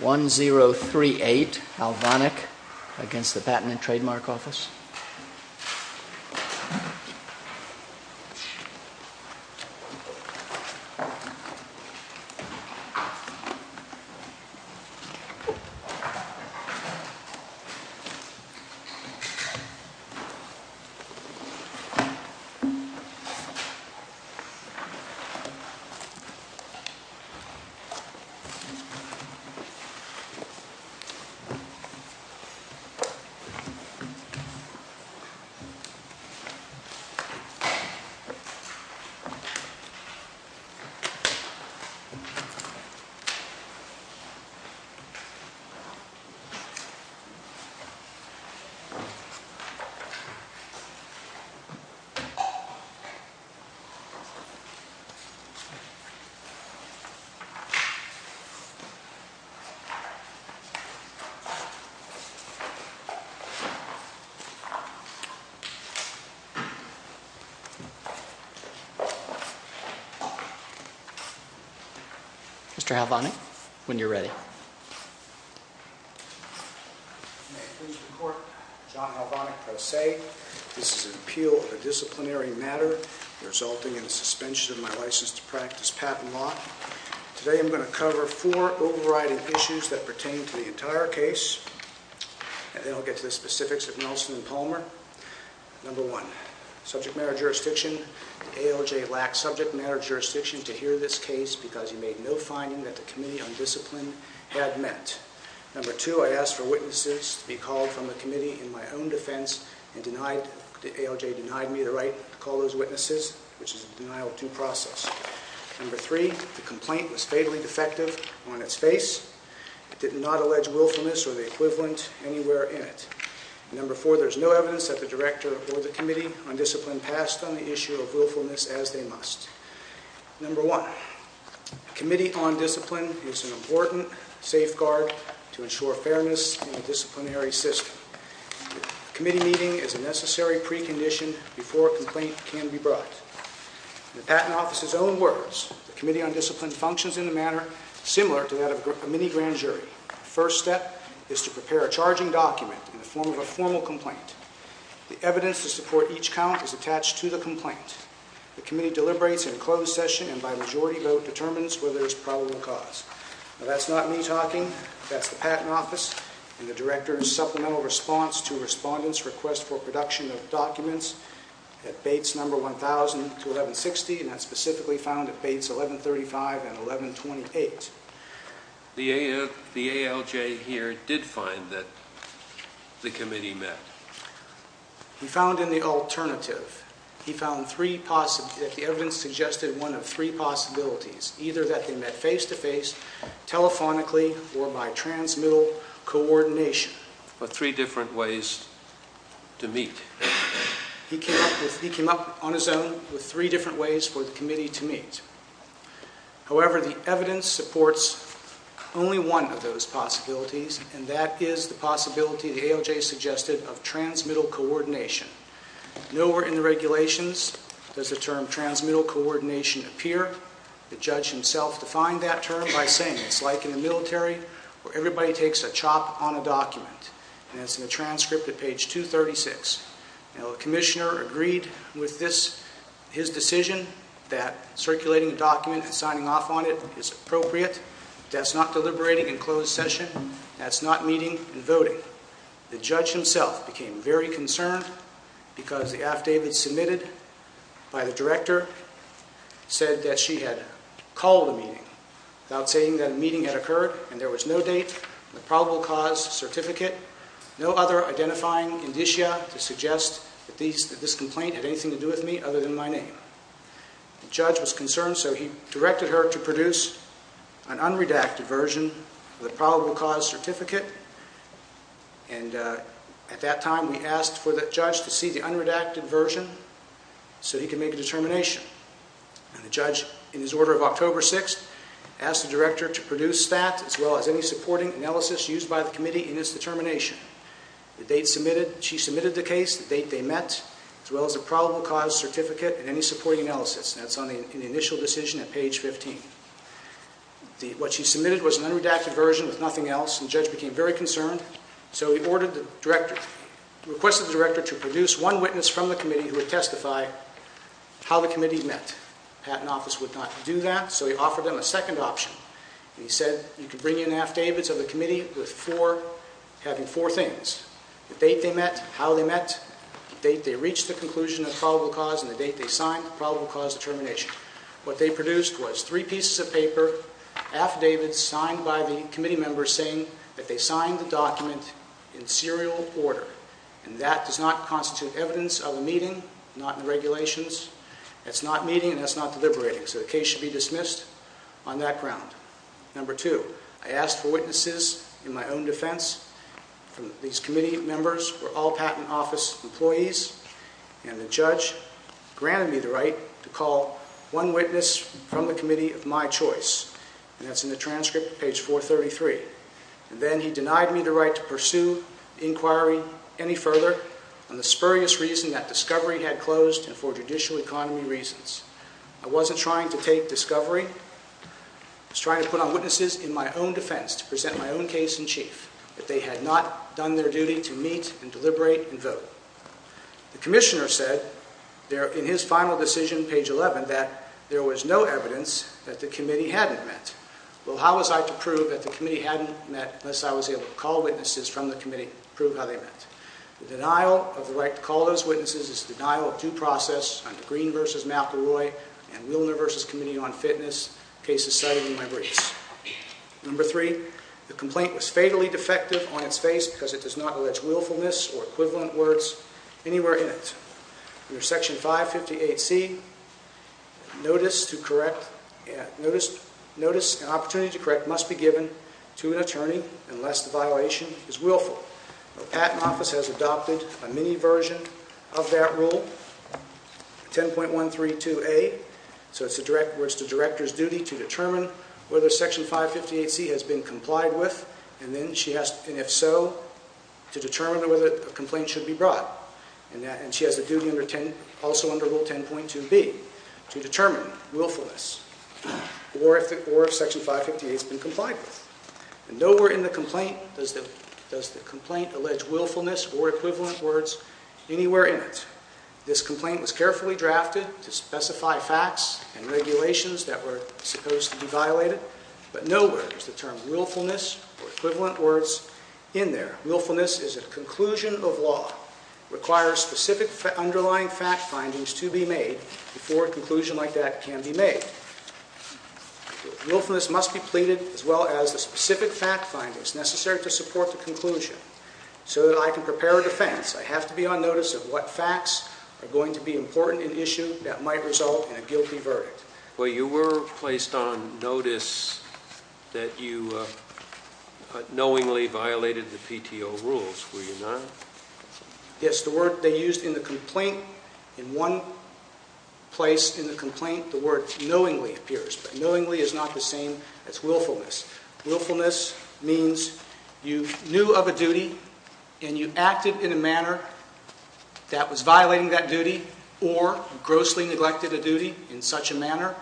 1038, Halvonik, against the Patent and Trademark Office. 1. Mr. Halvonik, when you're ready. May it please the Court, John Halvonik, Pro Se. This is an appeal of a disciplinary matter resulting in the suspension of my license to practice patent law. Today I'm going to cover four overriding issues that pertain to the entire case, and then I'll get to the specifics of Nelson and Palmer. 1. Subject matter jurisdiction. ALJ lacked subject matter jurisdiction to hear this case because he made no finding that the Committee on Discipline had met. 2. I asked for witnesses to be called from the Committee in my own defense, and ALJ denied me the right to call those witnesses, which is a denial of due process. 3. The complaint was fatally defective on its face. It did not allege willfulness or the equivalent anywhere in it. 4. There is no evidence that the Director or the Committee on Discipline passed on the issue of willfulness as they must. 1. The Committee on Discipline is an important safeguard to ensure fairness in the disciplinary system. A Committee meeting is a necessary precondition before a complaint can be brought. In the Patent Office's own words, the Committee on Discipline functions in a manner similar to that of a mini-grand jury. The first step is to prepare a charging document in the form of a formal complaint. The evidence to support each count is attached to the complaint. The Committee deliberates in a closed session and by majority vote determines whether there is probable cause. That's not me talking, that's the Patent Office and the Director's supplemental response to Respondent's request for production of documents at Bates No. 1000-1160 and that's specifically found at Bates No. 1135 and 1128. The ALJ here did find that the Committee met. He found in the alternative. He found that the evidence suggested one of three possibilities, either that they met face-to-face, telephonically, or by transmittal coordination. Or three different ways to meet. He came up on his own with three different ways for the Committee to meet. However, the evidence supports only one of those possibilities and that is the possibility, the ALJ suggested, of transmittal coordination. Nowhere in the regulations does the term transmittal coordination appear. The judge himself defined that term by saying it's like in the military where everybody takes a chop on a document and it's in a transcript at page 236. Now the Commissioner agreed with his decision that circulating a document and signing off on it is appropriate. That's not deliberating in closed session. That's not meeting and voting. The judge himself became very concerned because the affidavit submitted by the Director said that she had called a meeting without saying that a meeting had occurred and there was no date on the probable cause certificate, no other identifying indicia to suggest that this complaint had anything to do with me other than my name. The judge was concerned so he directed her to produce an unredacted version of the probable cause certificate and at that time we asked for the judge to see the unredacted version so he could make a determination. The judge, in his order of October 6th, asked the Director to produce that as well as any supporting analysis used by the committee in this determination. The date she submitted the case, the date they met, as well as the probable cause certificate and any supporting analysis. That's on the initial decision at page 15. What she submitted was an unredacted version with nothing else and the judge became very concerned so he ordered the Director, requested the Director to produce one witness from the committee met. The Patent Office would not do that so he offered them a second option. He said you can bring in affidavits of the committee having four things. The date they met, how they met, the date they reached the conclusion of probable cause and the date they signed the probable cause determination. What they produced was three pieces of paper, affidavits signed by the committee members saying that they signed the document in serial order and that does not constitute evidence of a meeting, not in regulations. That's not meeting and that's not deliberating so the case should be dismissed on that ground. Number two, I asked for witnesses in my own defense. These committee members were all Patent Office employees and the judge granted me the right to call one witness from the committee of my choice and that's in the transcript, page 433. And then he denied me the right to pursue inquiry any further on the spurious reason that discovery had closed and for judicial economy reasons. I wasn't trying to take discovery, I was trying to put on witnesses in my own defense to present my own case in chief that they had not done their duty to meet and deliberate and vote. The Commissioner said in his final decision, page 11, that there was no evidence that the committee hadn't met. Well, how was I to prove that the committee hadn't met unless I was able to call witnesses from the committee to prove how they met? The denial of the right to call those witnesses is a denial of due process under Green v. McElroy and Wilner v. Committee on Fitness, cases cited in my briefs. Number three, the complaint was fatally defective on its face because it does not allege willfulness or equivalent words anywhere in it. Under Section 558C, notice and opportunity to correct must be given to an attorney unless the violation is willful. The Patent Office has adopted a mini version of that rule, 10.132A, where it's the director's duty to determine whether Section 558C has been complied with, and if so, to determine whether a complaint should be brought. And she has a duty also under Rule 10.2B to determine willfulness or if Section 558 has been complied with. Nowhere in the complaint does the complaint allege willfulness or equivalent words anywhere in it. This complaint was carefully drafted to specify facts and regulations that were supposed to be violated, but nowhere is the term willfulness or equivalent words in there. Willfulness is a conclusion of law, requires specific underlying fact findings to be made before a conclusion like that can be made. Willfulness must be pleaded as well as the specific fact findings necessary to support the conclusion so that I can prepare a defense. I have to be on notice of what facts are going to be important in issue that might result in a guilty verdict. Well, you were placed on notice that you knowingly violated the PTO rules, were you not? Yes. The word they used in the complaint, in one place in the complaint, the word knowingly appears. But knowingly is not the same as willfulness. Willfulness means you knew of a duty and you acted in a manner that was violating that manner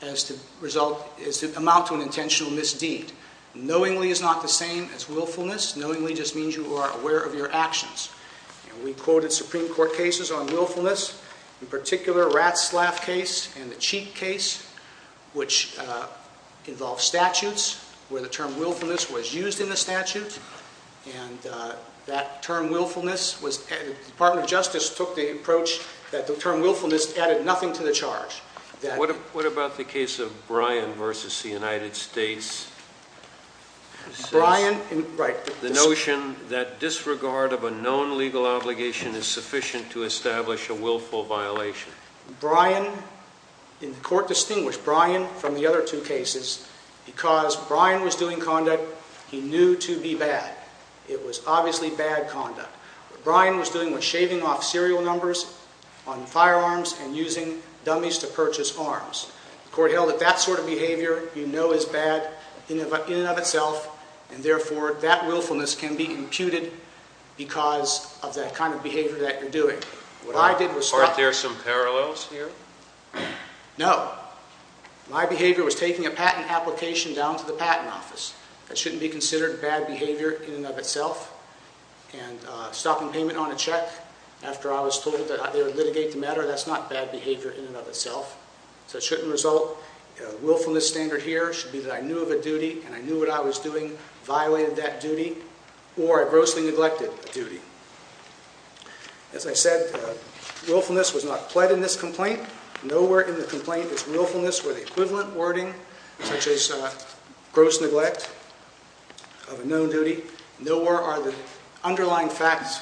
as to amount to an intentional misdeed. Knowingly is not the same as willfulness. Knowingly just means you are aware of your actions. We quoted Supreme Court cases on willfulness, in particular Ratzlaff case and the Cheek case, which involved statutes where the term willfulness was used in the statute. And that term willfulness, the Department of Justice took the approach that the term willfulness added nothing to the charge. What about the case of Bryan versus the United States? Bryan, right. The notion that disregard of a known legal obligation is sufficient to establish a willful violation. Bryan, the court distinguished Bryan from the other two cases because Bryan was doing conduct he knew to be bad. It was obviously bad conduct. Bryan was doing was shaving off serial numbers on firearms and using dummies to purchase arms. The court held that that sort of behavior you know is bad in and of itself and therefore that willfulness can be imputed because of that kind of behavior that you're doing. Aren't there some parallels here? No. My behavior was taking a patent application down to the patent office. That shouldn't be considered bad behavior in and of itself. And stopping payment on a check after I was told that they would litigate the matter, that's not bad behavior in and of itself. So it shouldn't result. Willfulness standard here should be that I knew of a duty and I knew what I was doing, violated that duty, or I grossly neglected a duty. As I said, willfulness was not pled in this complaint. Nowhere in the complaint is willfulness where the equivalent wording such as gross neglect of a known duty. Nowhere are the underlying facts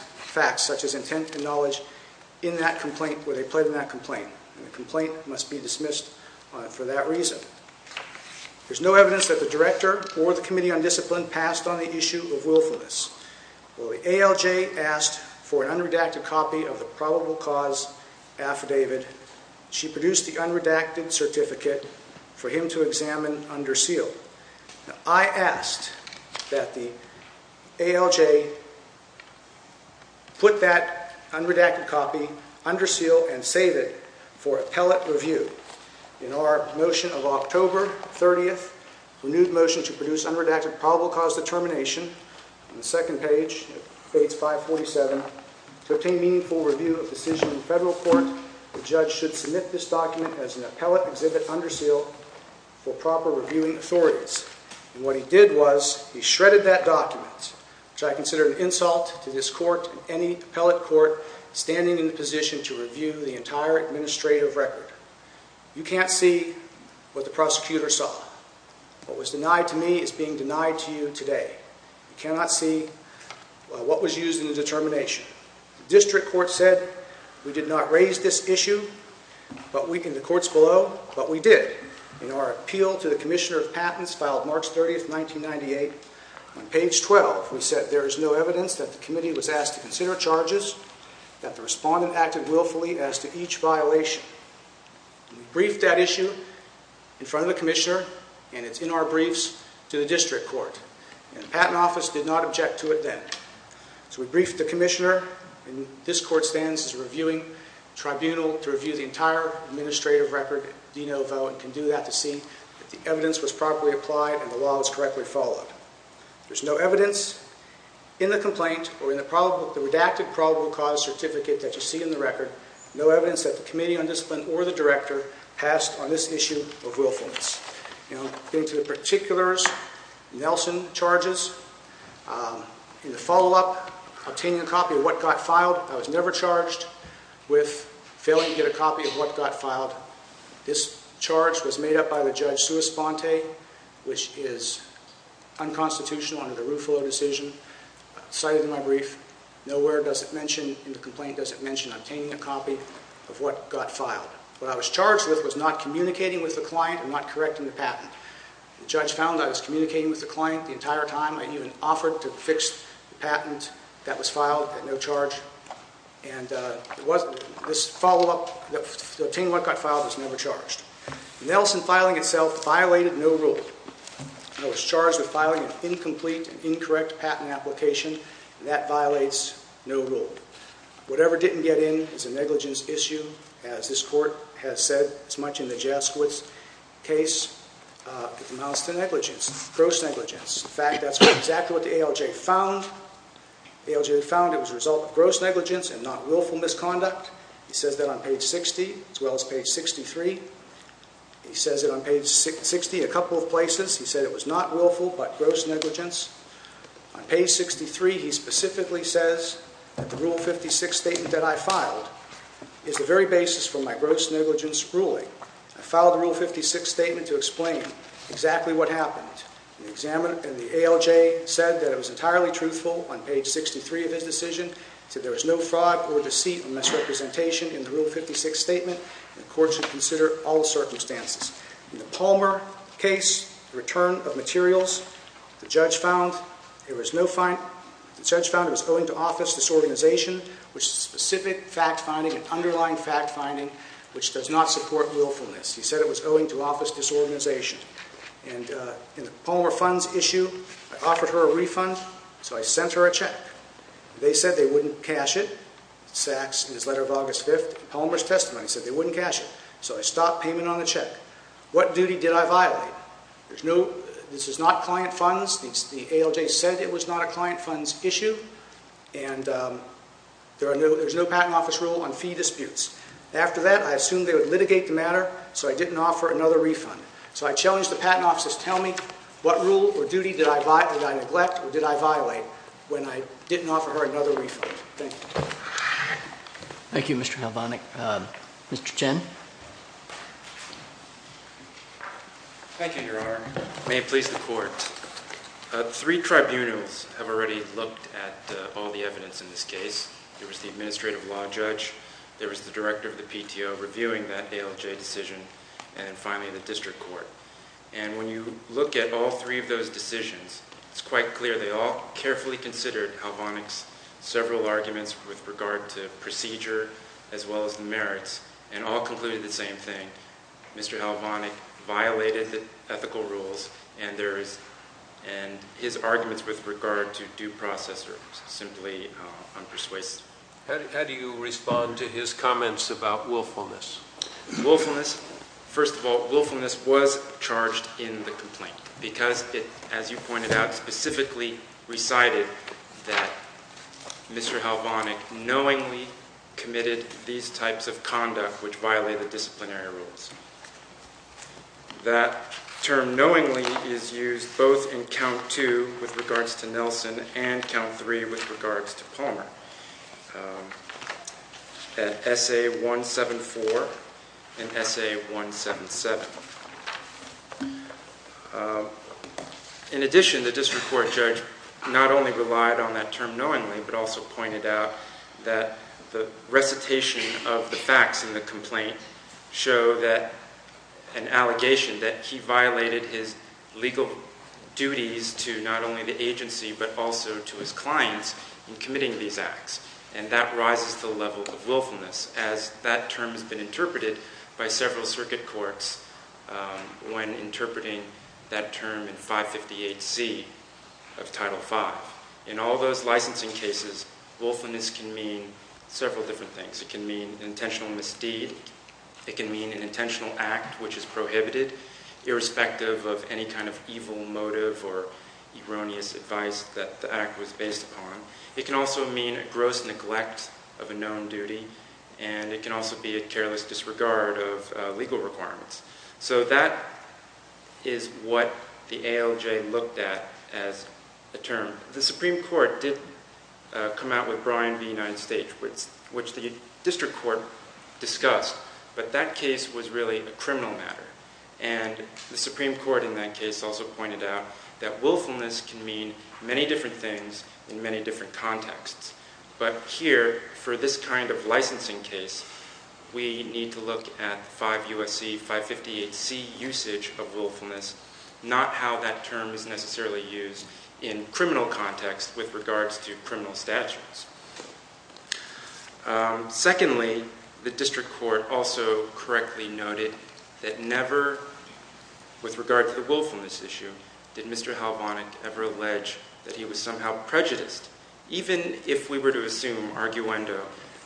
such as intent and knowledge in that complaint where they pled in that complaint. The complaint must be dismissed for that reason. There's no evidence that the director or the committee on discipline passed on the issue of willfulness. Well, the ALJ asked for an unredacted copy of the probable cause affidavit. She produced the unredacted certificate for him to examine under seal. Now, I asked that the ALJ put that unredacted copy under seal and save it for appellate review. In our motion of October 30th, renewed motion to produce unredacted probable cause determination on the second page of page 547 to obtain meaningful review of decision in federal court, the judge should submit this document as an appellate exhibit under seal for proper reviewing authorities. And what he did was he shredded that document, which I consider an insult to this court and any appellate court standing in the position to review the entire administrative record. You can't see what the prosecutor saw. What was denied to me is being denied to you today. You cannot see what was used in the determination. The district court said we did not raise this issue in the courts below, but we did. In our appeal to the commissioner of patents filed March 30th, 1998, on page 12, we said there is no evidence that the committee was asked to consider charges, that the respondent acted willfully as to each violation. We briefed that issue in front of the commissioner, and it's in our briefs, to the district court. And the patent office did not object to it then. So we briefed the commissioner, and this court stands as a reviewing tribunal to review the entire administrative record, and can do that to see if the evidence was properly applied and the law was correctly followed. There's no evidence in the complaint or in the redacted probable cause certificate that there is no evidence that the committee on discipline or the director passed on this issue of willfulness. Now, going to the particulars, Nelson charges, in the follow-up, obtaining a copy of what got filed. I was never charged with failing to get a copy of what got filed. This charge was made up by the judge Suis-Bonte, which is unconstitutional under the Ruffalo decision. Cited in my brief. Nowhere does it mention, in the complaint, does it mention obtaining a copy of what got filed. What I was charged with was not communicating with the client and not correcting the patent. The judge found I was communicating with the client the entire time. I even offered to fix the patent that was filed at no charge. And this follow-up, obtaining what got filed was never charged. Nelson filing itself violated no rule. I was charged with filing an incomplete and incorrect patent application, and that violated no rule. Whatever didn't get in is a negligence issue, as this court has said as much in the Jasquitz case. It amounts to negligence, gross negligence. In fact, that's exactly what the ALJ found. The ALJ found it was a result of gross negligence and not willful misconduct. He says that on page 60, as well as page 63. He says it on page 60 in a couple of places. He said it was not willful, but gross negligence. On page 63, he specifically says that the Rule 56 statement that I filed is the very basis for my gross negligence ruling. I filed the Rule 56 statement to explain exactly what happened. The ALJ said that it was entirely truthful on page 63 of his decision. He said there was no fraud or deceit or misrepresentation in the Rule 56 statement, and the court should consider all circumstances. In the Palmer case, the return of materials, the judge found it was owing to office disorganization, which is specific fact-finding and underlying fact-finding, which does not support willfulness. He said it was owing to office disorganization. In the Palmer funds issue, I offered her a refund, so I sent her a check. They said they wouldn't cash it. Sacks, in his letter of August 5, Palmer's testimony, said they wouldn't cash it. So I stopped payment on the check. What duty did I violate? This is not client funds. The ALJ said it was not a client funds issue, and there's no Patent Office rule on fee disputes. After that, I assumed they would litigate the matter, so I didn't offer another refund. So I challenged the Patent Office to tell me what rule or duty did I neglect or did I violate when I didn't offer her another refund. Thank you. Thank you, Mr. Halvonik. Mr. Chen. Thank you, Your Honor. May it please the Court. Three tribunals have already looked at all the evidence in this case. There was the administrative law judge, there was the director of the PTO reviewing that ALJ decision, and then finally the district court. And when you look at all three of those decisions, it's quite clear they all carefully considered Halvonik's several arguments with regard to procedure as well as the merits, and all concluded the same thing. Mr. Halvonik violated the ethical rules, and his arguments with regard to due process are simply unpersuasive. How do you respond to his comments about willfulness? First of all, willfulness was charged in the complaint because it, as you pointed out, specifically recited that Mr. Halvonik knowingly committed these types of conduct which violate the disciplinary rules. That term knowingly is used both in count two with regards to Nelson and count three with regards to Palmer. At SA-174 and SA-177. In addition, the district court judge not only relied on that term knowingly, but also pointed out that the recitation of the facts in the complaint show that an allegation that he violated his legal duties to not only the agency but also to his clients in committing these acts. And that rises to the level of willfulness as that term has been interpreted by several circuit courts when interpreting that term in 558C of Title V. In all those licensing cases, willfulness can mean several different things. It can mean intentional misdeed. It can mean an intentional act which is prohibited irrespective of any kind of evil motive or erroneous advice that the act was based upon. It can also mean a gross neglect of a known duty. And it can also be a careless disregard of legal requirements. So that is what the ALJ looked at as a term. The Supreme Court did come out with Bryan v. United States, which the district court discussed. But that case was really a criminal matter. And the Supreme Court in that case also pointed out that willfulness can mean many different things in many different contexts. But here, for this kind of licensing case, we need to look at the 558C usage of willfulness, not how that term is necessarily used in criminal context with regards to criminal statutes. Secondly, the district court also correctly noted that never with regard to the willfulness issue did Mr. Halvonic ever allege that he was somehow prejudiced. Even if we were to assume arguendo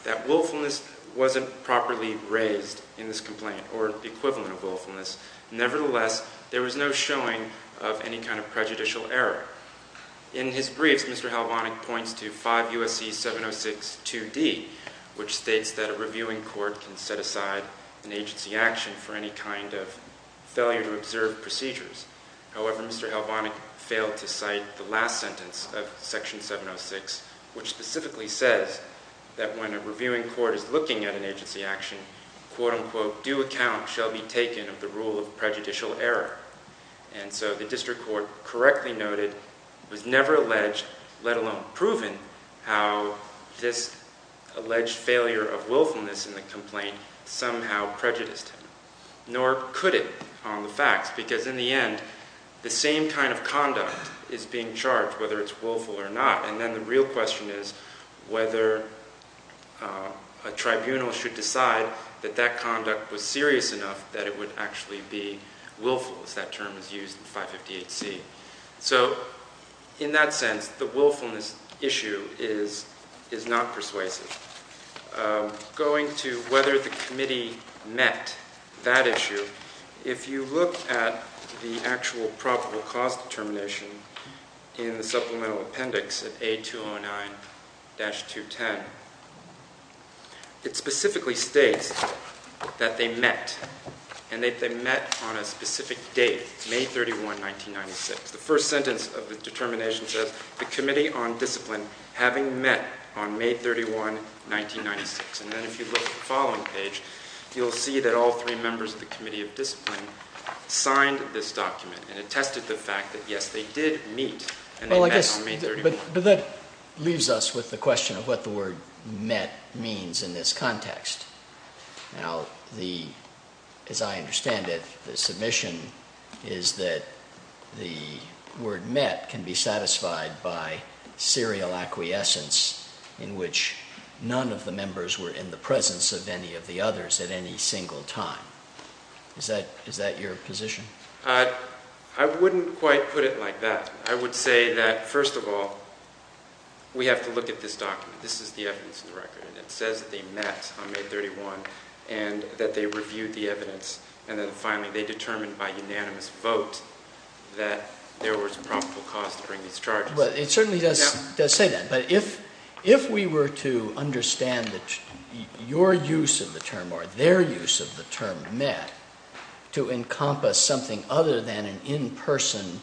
that willfulness wasn't properly raised in this complaint or the equivalent of willfulness, nevertheless, there was no showing of any kind of prejudicial error. In his briefs, Mr. Halvonic points to 5 U.S.C. 706 2D, which states that a reviewing court can set aside an agency action for any kind of failure to observe procedures. However, Mr. Halvonic failed to cite the last sentence of section 706, which specifically says that when a reviewing court is looking at an agency action, quote-unquote, due account shall be taken of the rule of prejudicial error. And so the district court correctly noted was never alleged, let alone proven, how this alleged failure of willfulness in the complaint somehow prejudiced him. Nor could it on the facts, because in the end, the same kind of conduct is being charged, whether it's willful or not. And then the real question is whether a tribunal should decide that that conduct was serious enough that it would actually be willful, as that term is used in 558C. So in that sense, the willfulness issue is not persuasive. Going to whether the committee met that issue, if you look at the actual probable cause determination in the supplemental appendix at A209-210, it specifically states that they met, and that they met on a specific date, May 31, 1996. The first sentence of the determination says the Committee on Discipline having met on May 31, 1996. And then if you look at the following page, you'll see that all three members of the Committee of Discipline signed this document and attested the fact that, yes, they did meet and they met on May 31. But that leaves us with the question of what the word met means in this context. Now, as I understand it, the submission is that the word met can be satisfied by serial acquiescence in which none of the members were in the presence of any of the others at any single time. Is that your position? I wouldn't quite put it like that. I would say that, first of all, we have to look at this document. This is the evidence in the record, and it says that they met on May 31 and that they reviewed the evidence and then finally they determined by unanimous vote that there was a probable cause to bring these charges. Well, it certainly does say that. But if we were to understand that your use of the term or their use of the term met to encompass something other than an in-person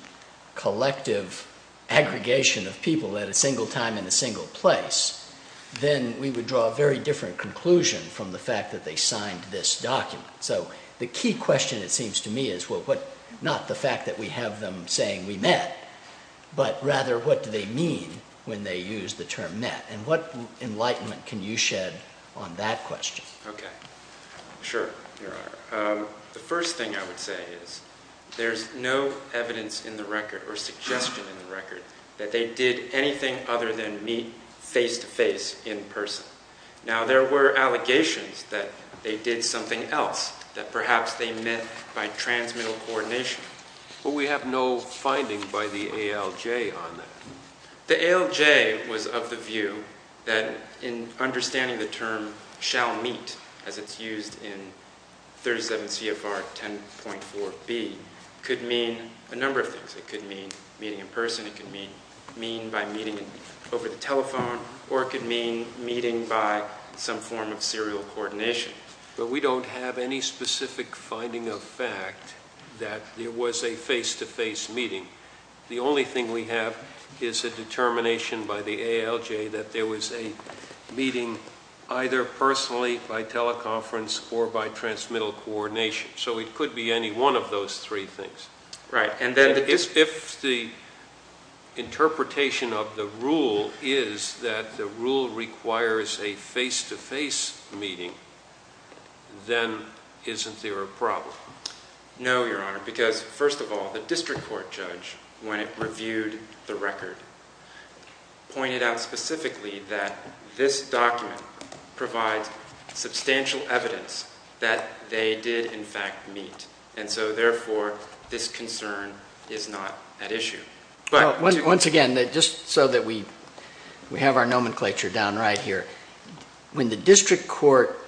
collective aggregation of people at a single time in a single place, then we would draw a very different conclusion from the fact that they signed this document. So the key question, it seems to me, is not the fact that we have them saying we met, but rather what do they mean when they use the term met, and what enlightenment can you shed on that question? Okay. Sure. The first thing I would say is there's no evidence in the record or suggestion in the record that they did anything other than meet face-to-face in person. Now, there were allegations that they did something else, that perhaps they met by transmittal coordination. But we have no finding by the ALJ on that. The ALJ was of the view that in understanding the term shall meet, as it's used in 37 CFR 10.4b, could mean a number of things. It could mean meeting in person, it could mean by meeting over the telephone, or it could mean meeting by some form of serial coordination. But we don't have any specific finding of fact that there was a face-to-face meeting. The only thing we have is a determination by the ALJ that there was a meeting either personally, by teleconference, or by transmittal coordination. So it could be any one of those three things. Right. If the interpretation of the rule is that the rule requires a face-to-face meeting, then isn't there a problem? No, Your Honor, because first of all, the district court judge, when it reviewed the record, pointed out specifically that this document provides substantial evidence that they did in fact meet. And so therefore, this concern is not at issue. Once again, just so that we have our nomenclature down right here, when the district court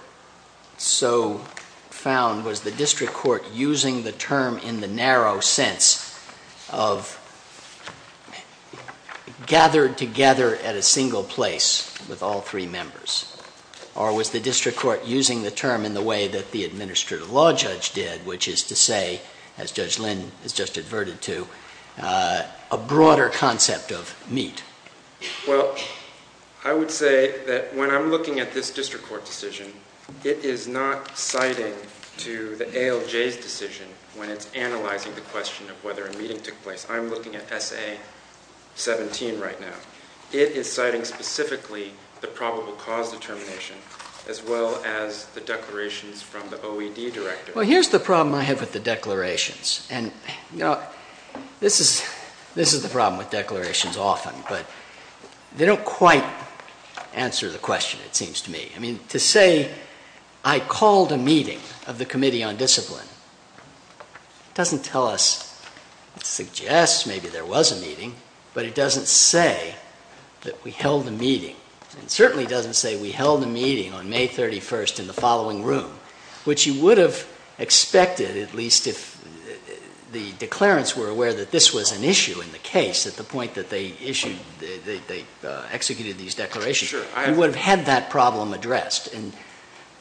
so found, was the district court using the term in the narrow sense of gathered together at a single place with all three members? Or was the district court using the term in the way that the administrative law judge did, which is to say, as Judge Lynn has just adverted to, a broader concept of meet? Well, I would say that when I'm looking at this district court decision, it is not citing to the ALJ's decision when it's analyzing the question of whether a meeting took place. I'm looking at SA-17 right now. It is citing specifically the probable cause determination, as well as the declarations from the OED director. Well, here's the problem I have with the declarations. And, you know, this is the problem with declarations often, but they don't quite answer the question, it seems to me. I mean, to say I called a meeting of the Committee on Discipline doesn't tell us, suggests maybe there was a meeting, but it doesn't say that we held a meeting. It certainly doesn't say we held a meeting on May 31st in the following room, which you would have expected at least if the declarants were aware that this was an issue in the case at the point that they executed these declarations. Sure. We would have had that problem addressed.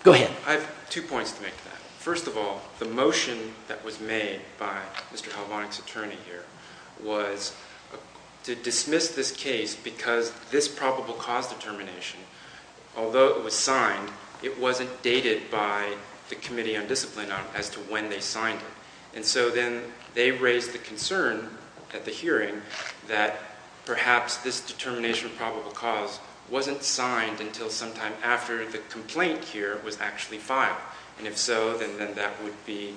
Go ahead. I have two points to make to that. First of all, the motion that was made by Mr. Halvonik's attorney here was to dismiss this case because this probable cause determination, although it was signed, it wasn't dated by the Committee on Discipline as to when they signed it. And so then they raised the concern at the hearing that perhaps this determination of probable cause wasn't signed until sometime after the complaint here was actually filed. And if so, then that would be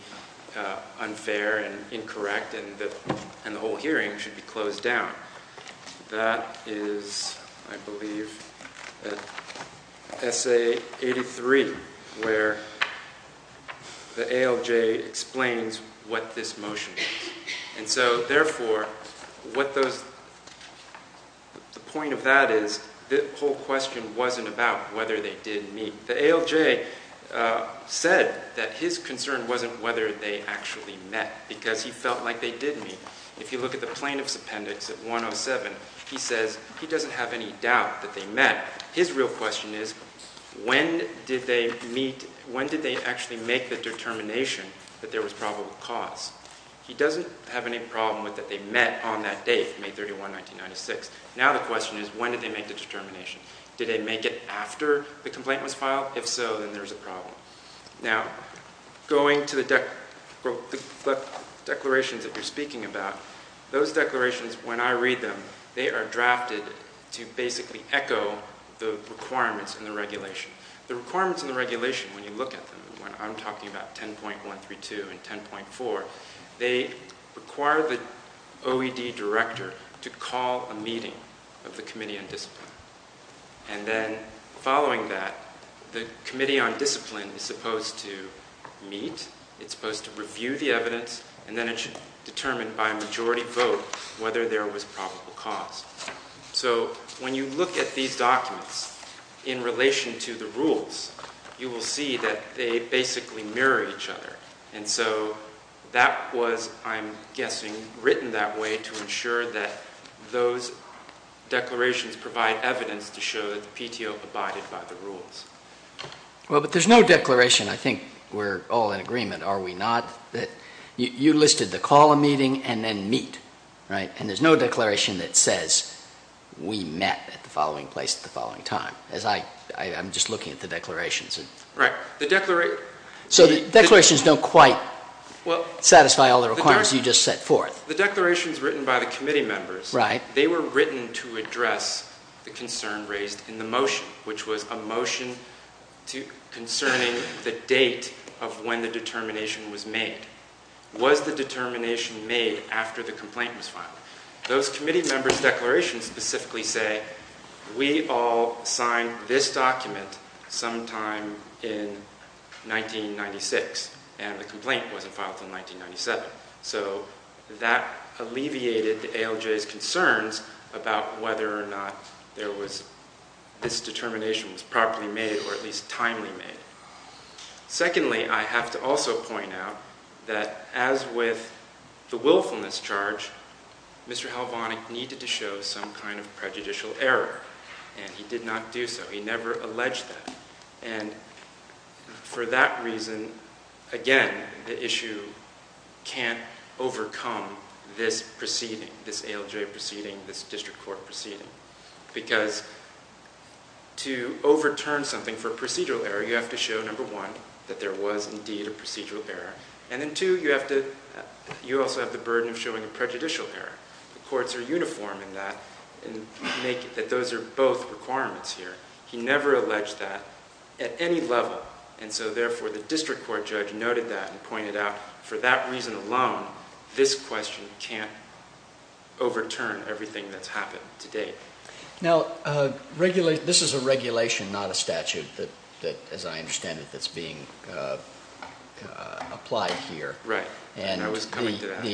unfair and incorrect, and the whole hearing should be closed down. That is, I believe, at Essay 83, where the ALJ explains what this motion is. And so, therefore, what those – the point of that is the whole question wasn't about whether they did meet. The ALJ said that his concern wasn't whether they actually met because he felt like they did meet. If you look at the plaintiff's appendix at 107, he says he doesn't have any doubt that they met. His real question is when did they meet – when did they actually make the determination that there was probable cause? He doesn't have any problem with that they met on that date, May 31, 1996. Now the question is when did they make the determination? Did they make it after the complaint was filed? If so, then there's a problem. Now, going to the declarations that you're speaking about, those declarations, when I read them, they are drafted to basically echo the requirements in the regulation. The requirements in the regulation, when you look at them, when I'm talking about 10.132 and 10.4, they require the OED director to call a meeting of the Committee on Discipline. And then following that, the Committee on Discipline is supposed to meet, it's supposed to review the evidence, and then it should determine by majority vote whether there was probable cause. So when you look at these documents in relation to the rules, you will see that they basically mirror each other. And so that was, I'm guessing, written that way to ensure that those declarations provide evidence to show that the PTO abided by the rules. Well, but there's no declaration. I think we're all in agreement, are we not, that you listed the call a meeting and then meet, right? And there's no declaration that says we met at the following place at the following time. As I'm just looking at the declarations. Right. So the declarations don't quite satisfy all the requirements you just set forth. The declarations written by the committee members. Right. They were written to address the concern raised in the motion, which was a motion concerning the date of when the determination was made. Was the determination made after the complaint was filed? Those committee members' declarations specifically say, we all signed this document sometime in 1996, and the complaint wasn't filed until 1997. So that alleviated the ALJ's concerns about whether or not this determination was properly made or at least timely made. Secondly, I have to also point out that as with the willfulness charge, Mr. Halvonic needed to show some kind of prejudicial error, and he did not do so. He never alleged that. And for that reason, again, the issue can't overcome this proceeding, this ALJ proceeding, this district court proceeding. Because to overturn something for procedural error, you have to show, number one, that there was indeed a procedural error. And then, two, you also have the burden of showing a prejudicial error. The courts are uniform in that, that those are both requirements here. He never alleged that at any level. And so therefore, the district court judge noted that and pointed out, for that reason alone, this question can't overturn everything that's happened to date. Now, this is a regulation, not a statute that, as I understand it, that's being applied here. Right. I was coming to that. And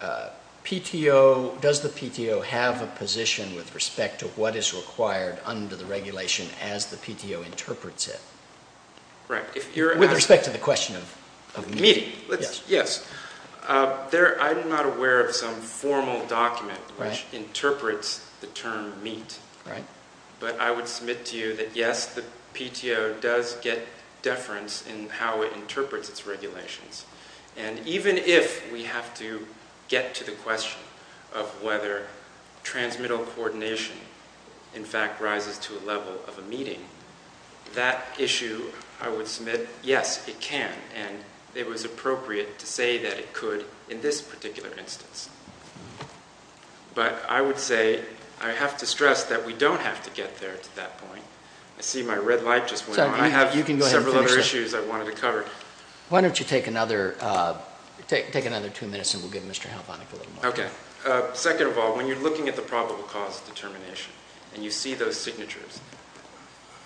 the PTO, does the PTO have a position with respect to what is required under the regulation as the PTO interprets it? Right. With respect to the question of meeting. Yes. I'm not aware of some formal document which interprets the term meet. Right. But I would submit to you that, yes, the PTO does get deference in how it interprets its regulations. And even if we have to get to the question of whether transmittal coordination, in fact, rises to a level of a meeting, that issue, I would submit, yes, it can. And it was appropriate to say that it could in this particular instance. But I would say I have to stress that we don't have to get there to that point. I see my red light just went on. I have several other issues I wanted to cover. Why don't you take another two minutes, and we'll give Mr. Helvonick a little more time. Okay. Second of all, when you're looking at the probable cause determination and you see those signatures,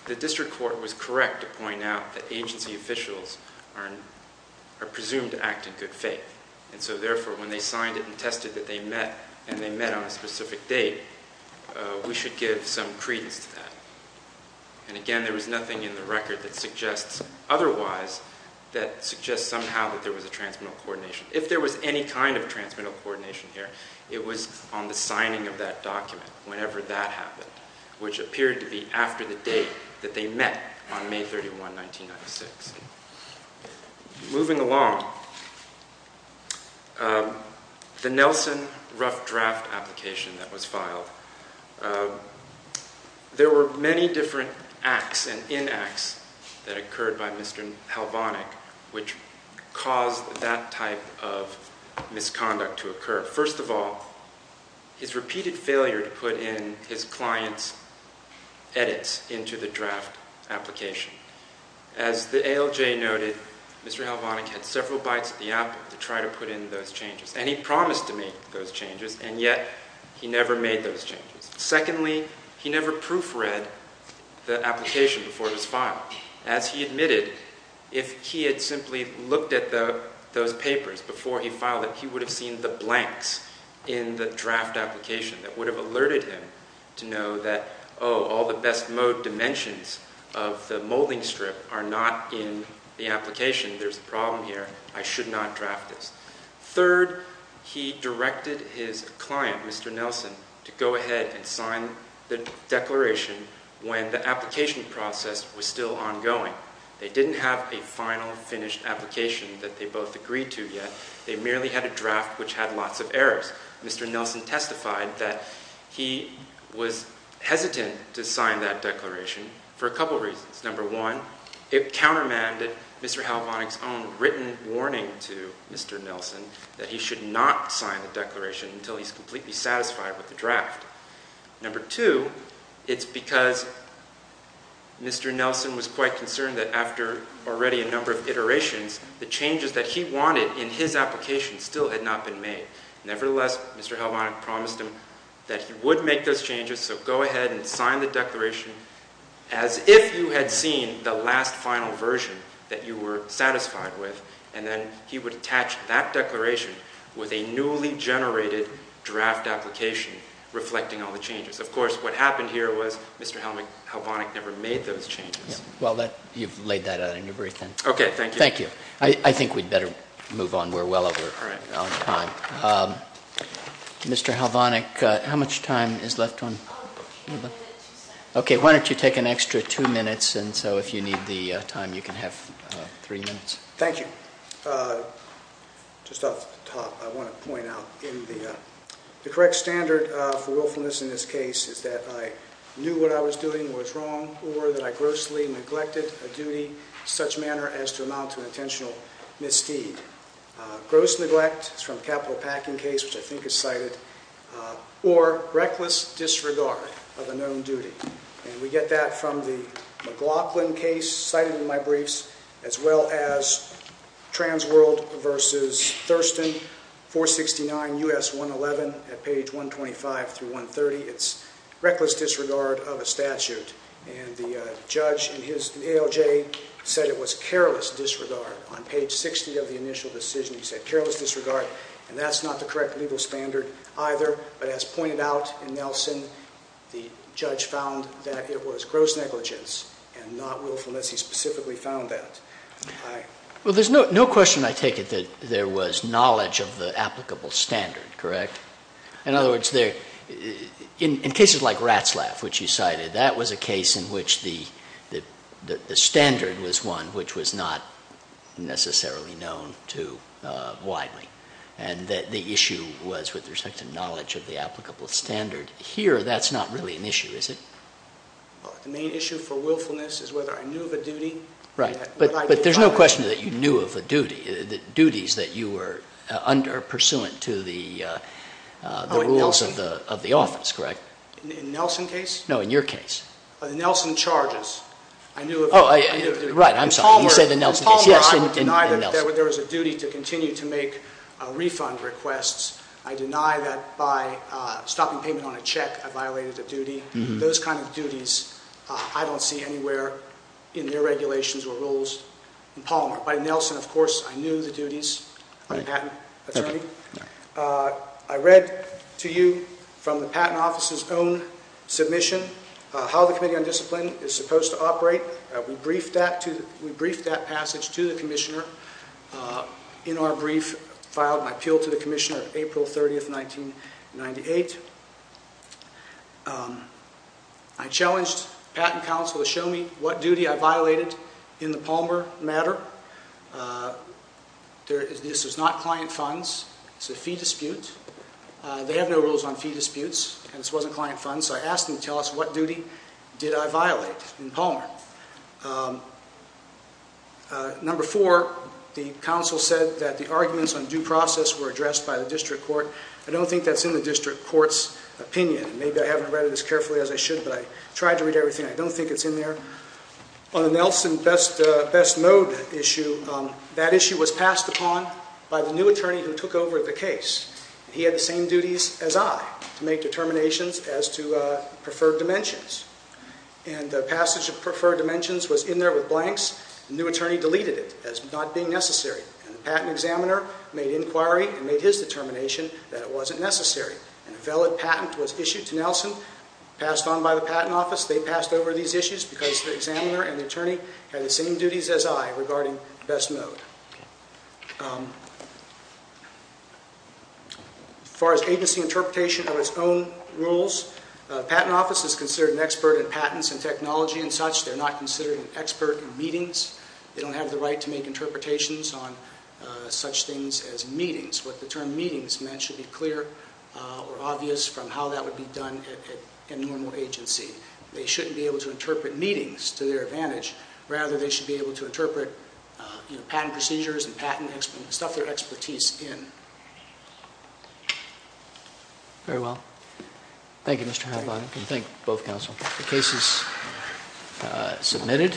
the district court was correct to point out that agency officials are presumed to act in good faith. And so, therefore, when they signed it and tested that they met and they met on a specific date, we should give some credence to that. And, again, there was nothing in the record that suggests otherwise that suggests somehow that there was a transmittal coordination. If there was any kind of transmittal coordination here, it was on the signing of that document whenever that happened, which appeared to be after the date that they met on May 31, 1996. Moving along, the Nelson rough draft application that was filed, there were many different acts and inacts that occurred by Mr. Helvonick which caused that type of misconduct to occur. First of all, his repeated failure to put in his client's edits into the draft application. As the ALJ noted, Mr. Helvonick had several bites at the apple to try to put in those changes, and he promised to make those changes, and yet he never made those changes. Secondly, he never proofread the application before it was filed. As he admitted, if he had simply looked at those papers before he filed it, he would have seen the blanks in the draft application that would have alerted him to know that, oh, all the best mode dimensions of the molding strip are not in the application. There's a problem here. I should not draft this. Third, he directed his client, Mr. Nelson, to go ahead and sign the declaration when the application process was still ongoing. They didn't have a final, finished application that they both agreed to yet. They merely had a draft which had lots of errors. Mr. Nelson testified that he was hesitant to sign that declaration for a couple reasons. Number one, it countermanded Mr. Helvonick's own written warning to Mr. Nelson that he should not sign the declaration until he's completely satisfied with the draft. Number two, it's because Mr. Nelson was quite concerned that after already a number of iterations, the changes that he wanted in his application still had not been made. Nevertheless, Mr. Helvonick promised him that he would make those changes, so go ahead and sign the declaration as if you had seen the last final version that you were satisfied with, and then he would attach that declaration with a newly generated draft application reflecting all the changes. Of course, what happened here was Mr. Helvonick never made those changes. Well, you've laid that out in your brief then. Okay, thank you. Thank you. I think we'd better move on. We're well over time. Mr. Helvonick, how much time is left on? Okay, why don't you take an extra two minutes, and so if you need the time, you can have three minutes. Thank you. Just off the top, I want to point out the correct standard for willfulness in this case is that I knew what I was doing was wrong or that I grossly neglected a duty in such manner as to amount to intentional misdeed. Gross neglect is from the capital packing case, which I think is cited, or reckless disregard of a known duty, and we get that from the McLaughlin case cited in my briefs as well as Transworld v. Thurston 469 U.S. 111 at page 125 through 130. It's reckless disregard of a statute, and the judge in his ALJ said it was careless disregard. On page 60 of the initial decision, he said careless disregard, and that's not the correct legal standard either, but as pointed out in Nelson, the judge found that it was gross negligence and not willfulness. He specifically found that. Well, there's no question I take it that there was knowledge of the applicable standard, correct? In other words, in cases like Ratzlaff, which you cited, that was a case in which the standard was one which was not necessarily known too widely, and the issue was with respect to knowledge of the applicable standard. Here, that's not really an issue, is it? The main issue for willfulness is whether I knew of a duty. Right, but there's no question that you knew of a duty, duties that you were pursuant to the rules of the office, correct? In the Nelson case? No, in your case. The Nelson charges. Right, I'm sorry. You said the Nelson case. In Palmer, I deny that there was a duty to continue to make refund requests. I deny that by stopping payment on a check, I violated a duty. Those kind of duties I don't see anywhere in their regulations or rules in Palmer. By Nelson, of course, I knew the duties. I'm a patent attorney. I read to you from the Patent Office's own submission how the Committee on Discipline is supposed to operate. We briefed that passage to the Commissioner. In our brief, I filed my appeal to the Commissioner on April 30, 1998. I challenged the Patent Council to show me what duty I violated in the Palmer matter. This is not client funds. It's a fee dispute. They have no rules on fee disputes, and this wasn't client funds, so I asked them to tell us what duty did I violate in Palmer. Number four, the Council said that the arguments on due process were addressed by the District Court. I don't think that's in the District Court's opinion. Maybe I haven't read it as carefully as I should, but I tried to read everything. I don't think it's in there. On the Nelson best mode issue, that issue was passed upon by the new attorney who took over the case. He had the same duties as I to make determinations as to preferred dimensions. The passage of preferred dimensions was in there with blanks. The new attorney deleted it as not being necessary, and the patent examiner made inquiry and made his determination that it wasn't necessary. A valid patent was issued to Nelson, passed on by the Patent Office. They passed over these issues because the examiner and the attorney had the same duties as I regarding best mode. As far as agency interpretation of its own rules, the Patent Office is considered an expert in patents and technology and such. They're not considered an expert in meetings. They don't have the right to make interpretations on such things as meetings. What the term meetings meant should be clear or obvious from how that would be done in normal agency. They shouldn't be able to interpret meetings to their advantage. Rather, they should be able to interpret patent procedures and stuff their expertise in. Very well. Thank you, Mr. Hadlott. I can thank both counsel. The case is submitted.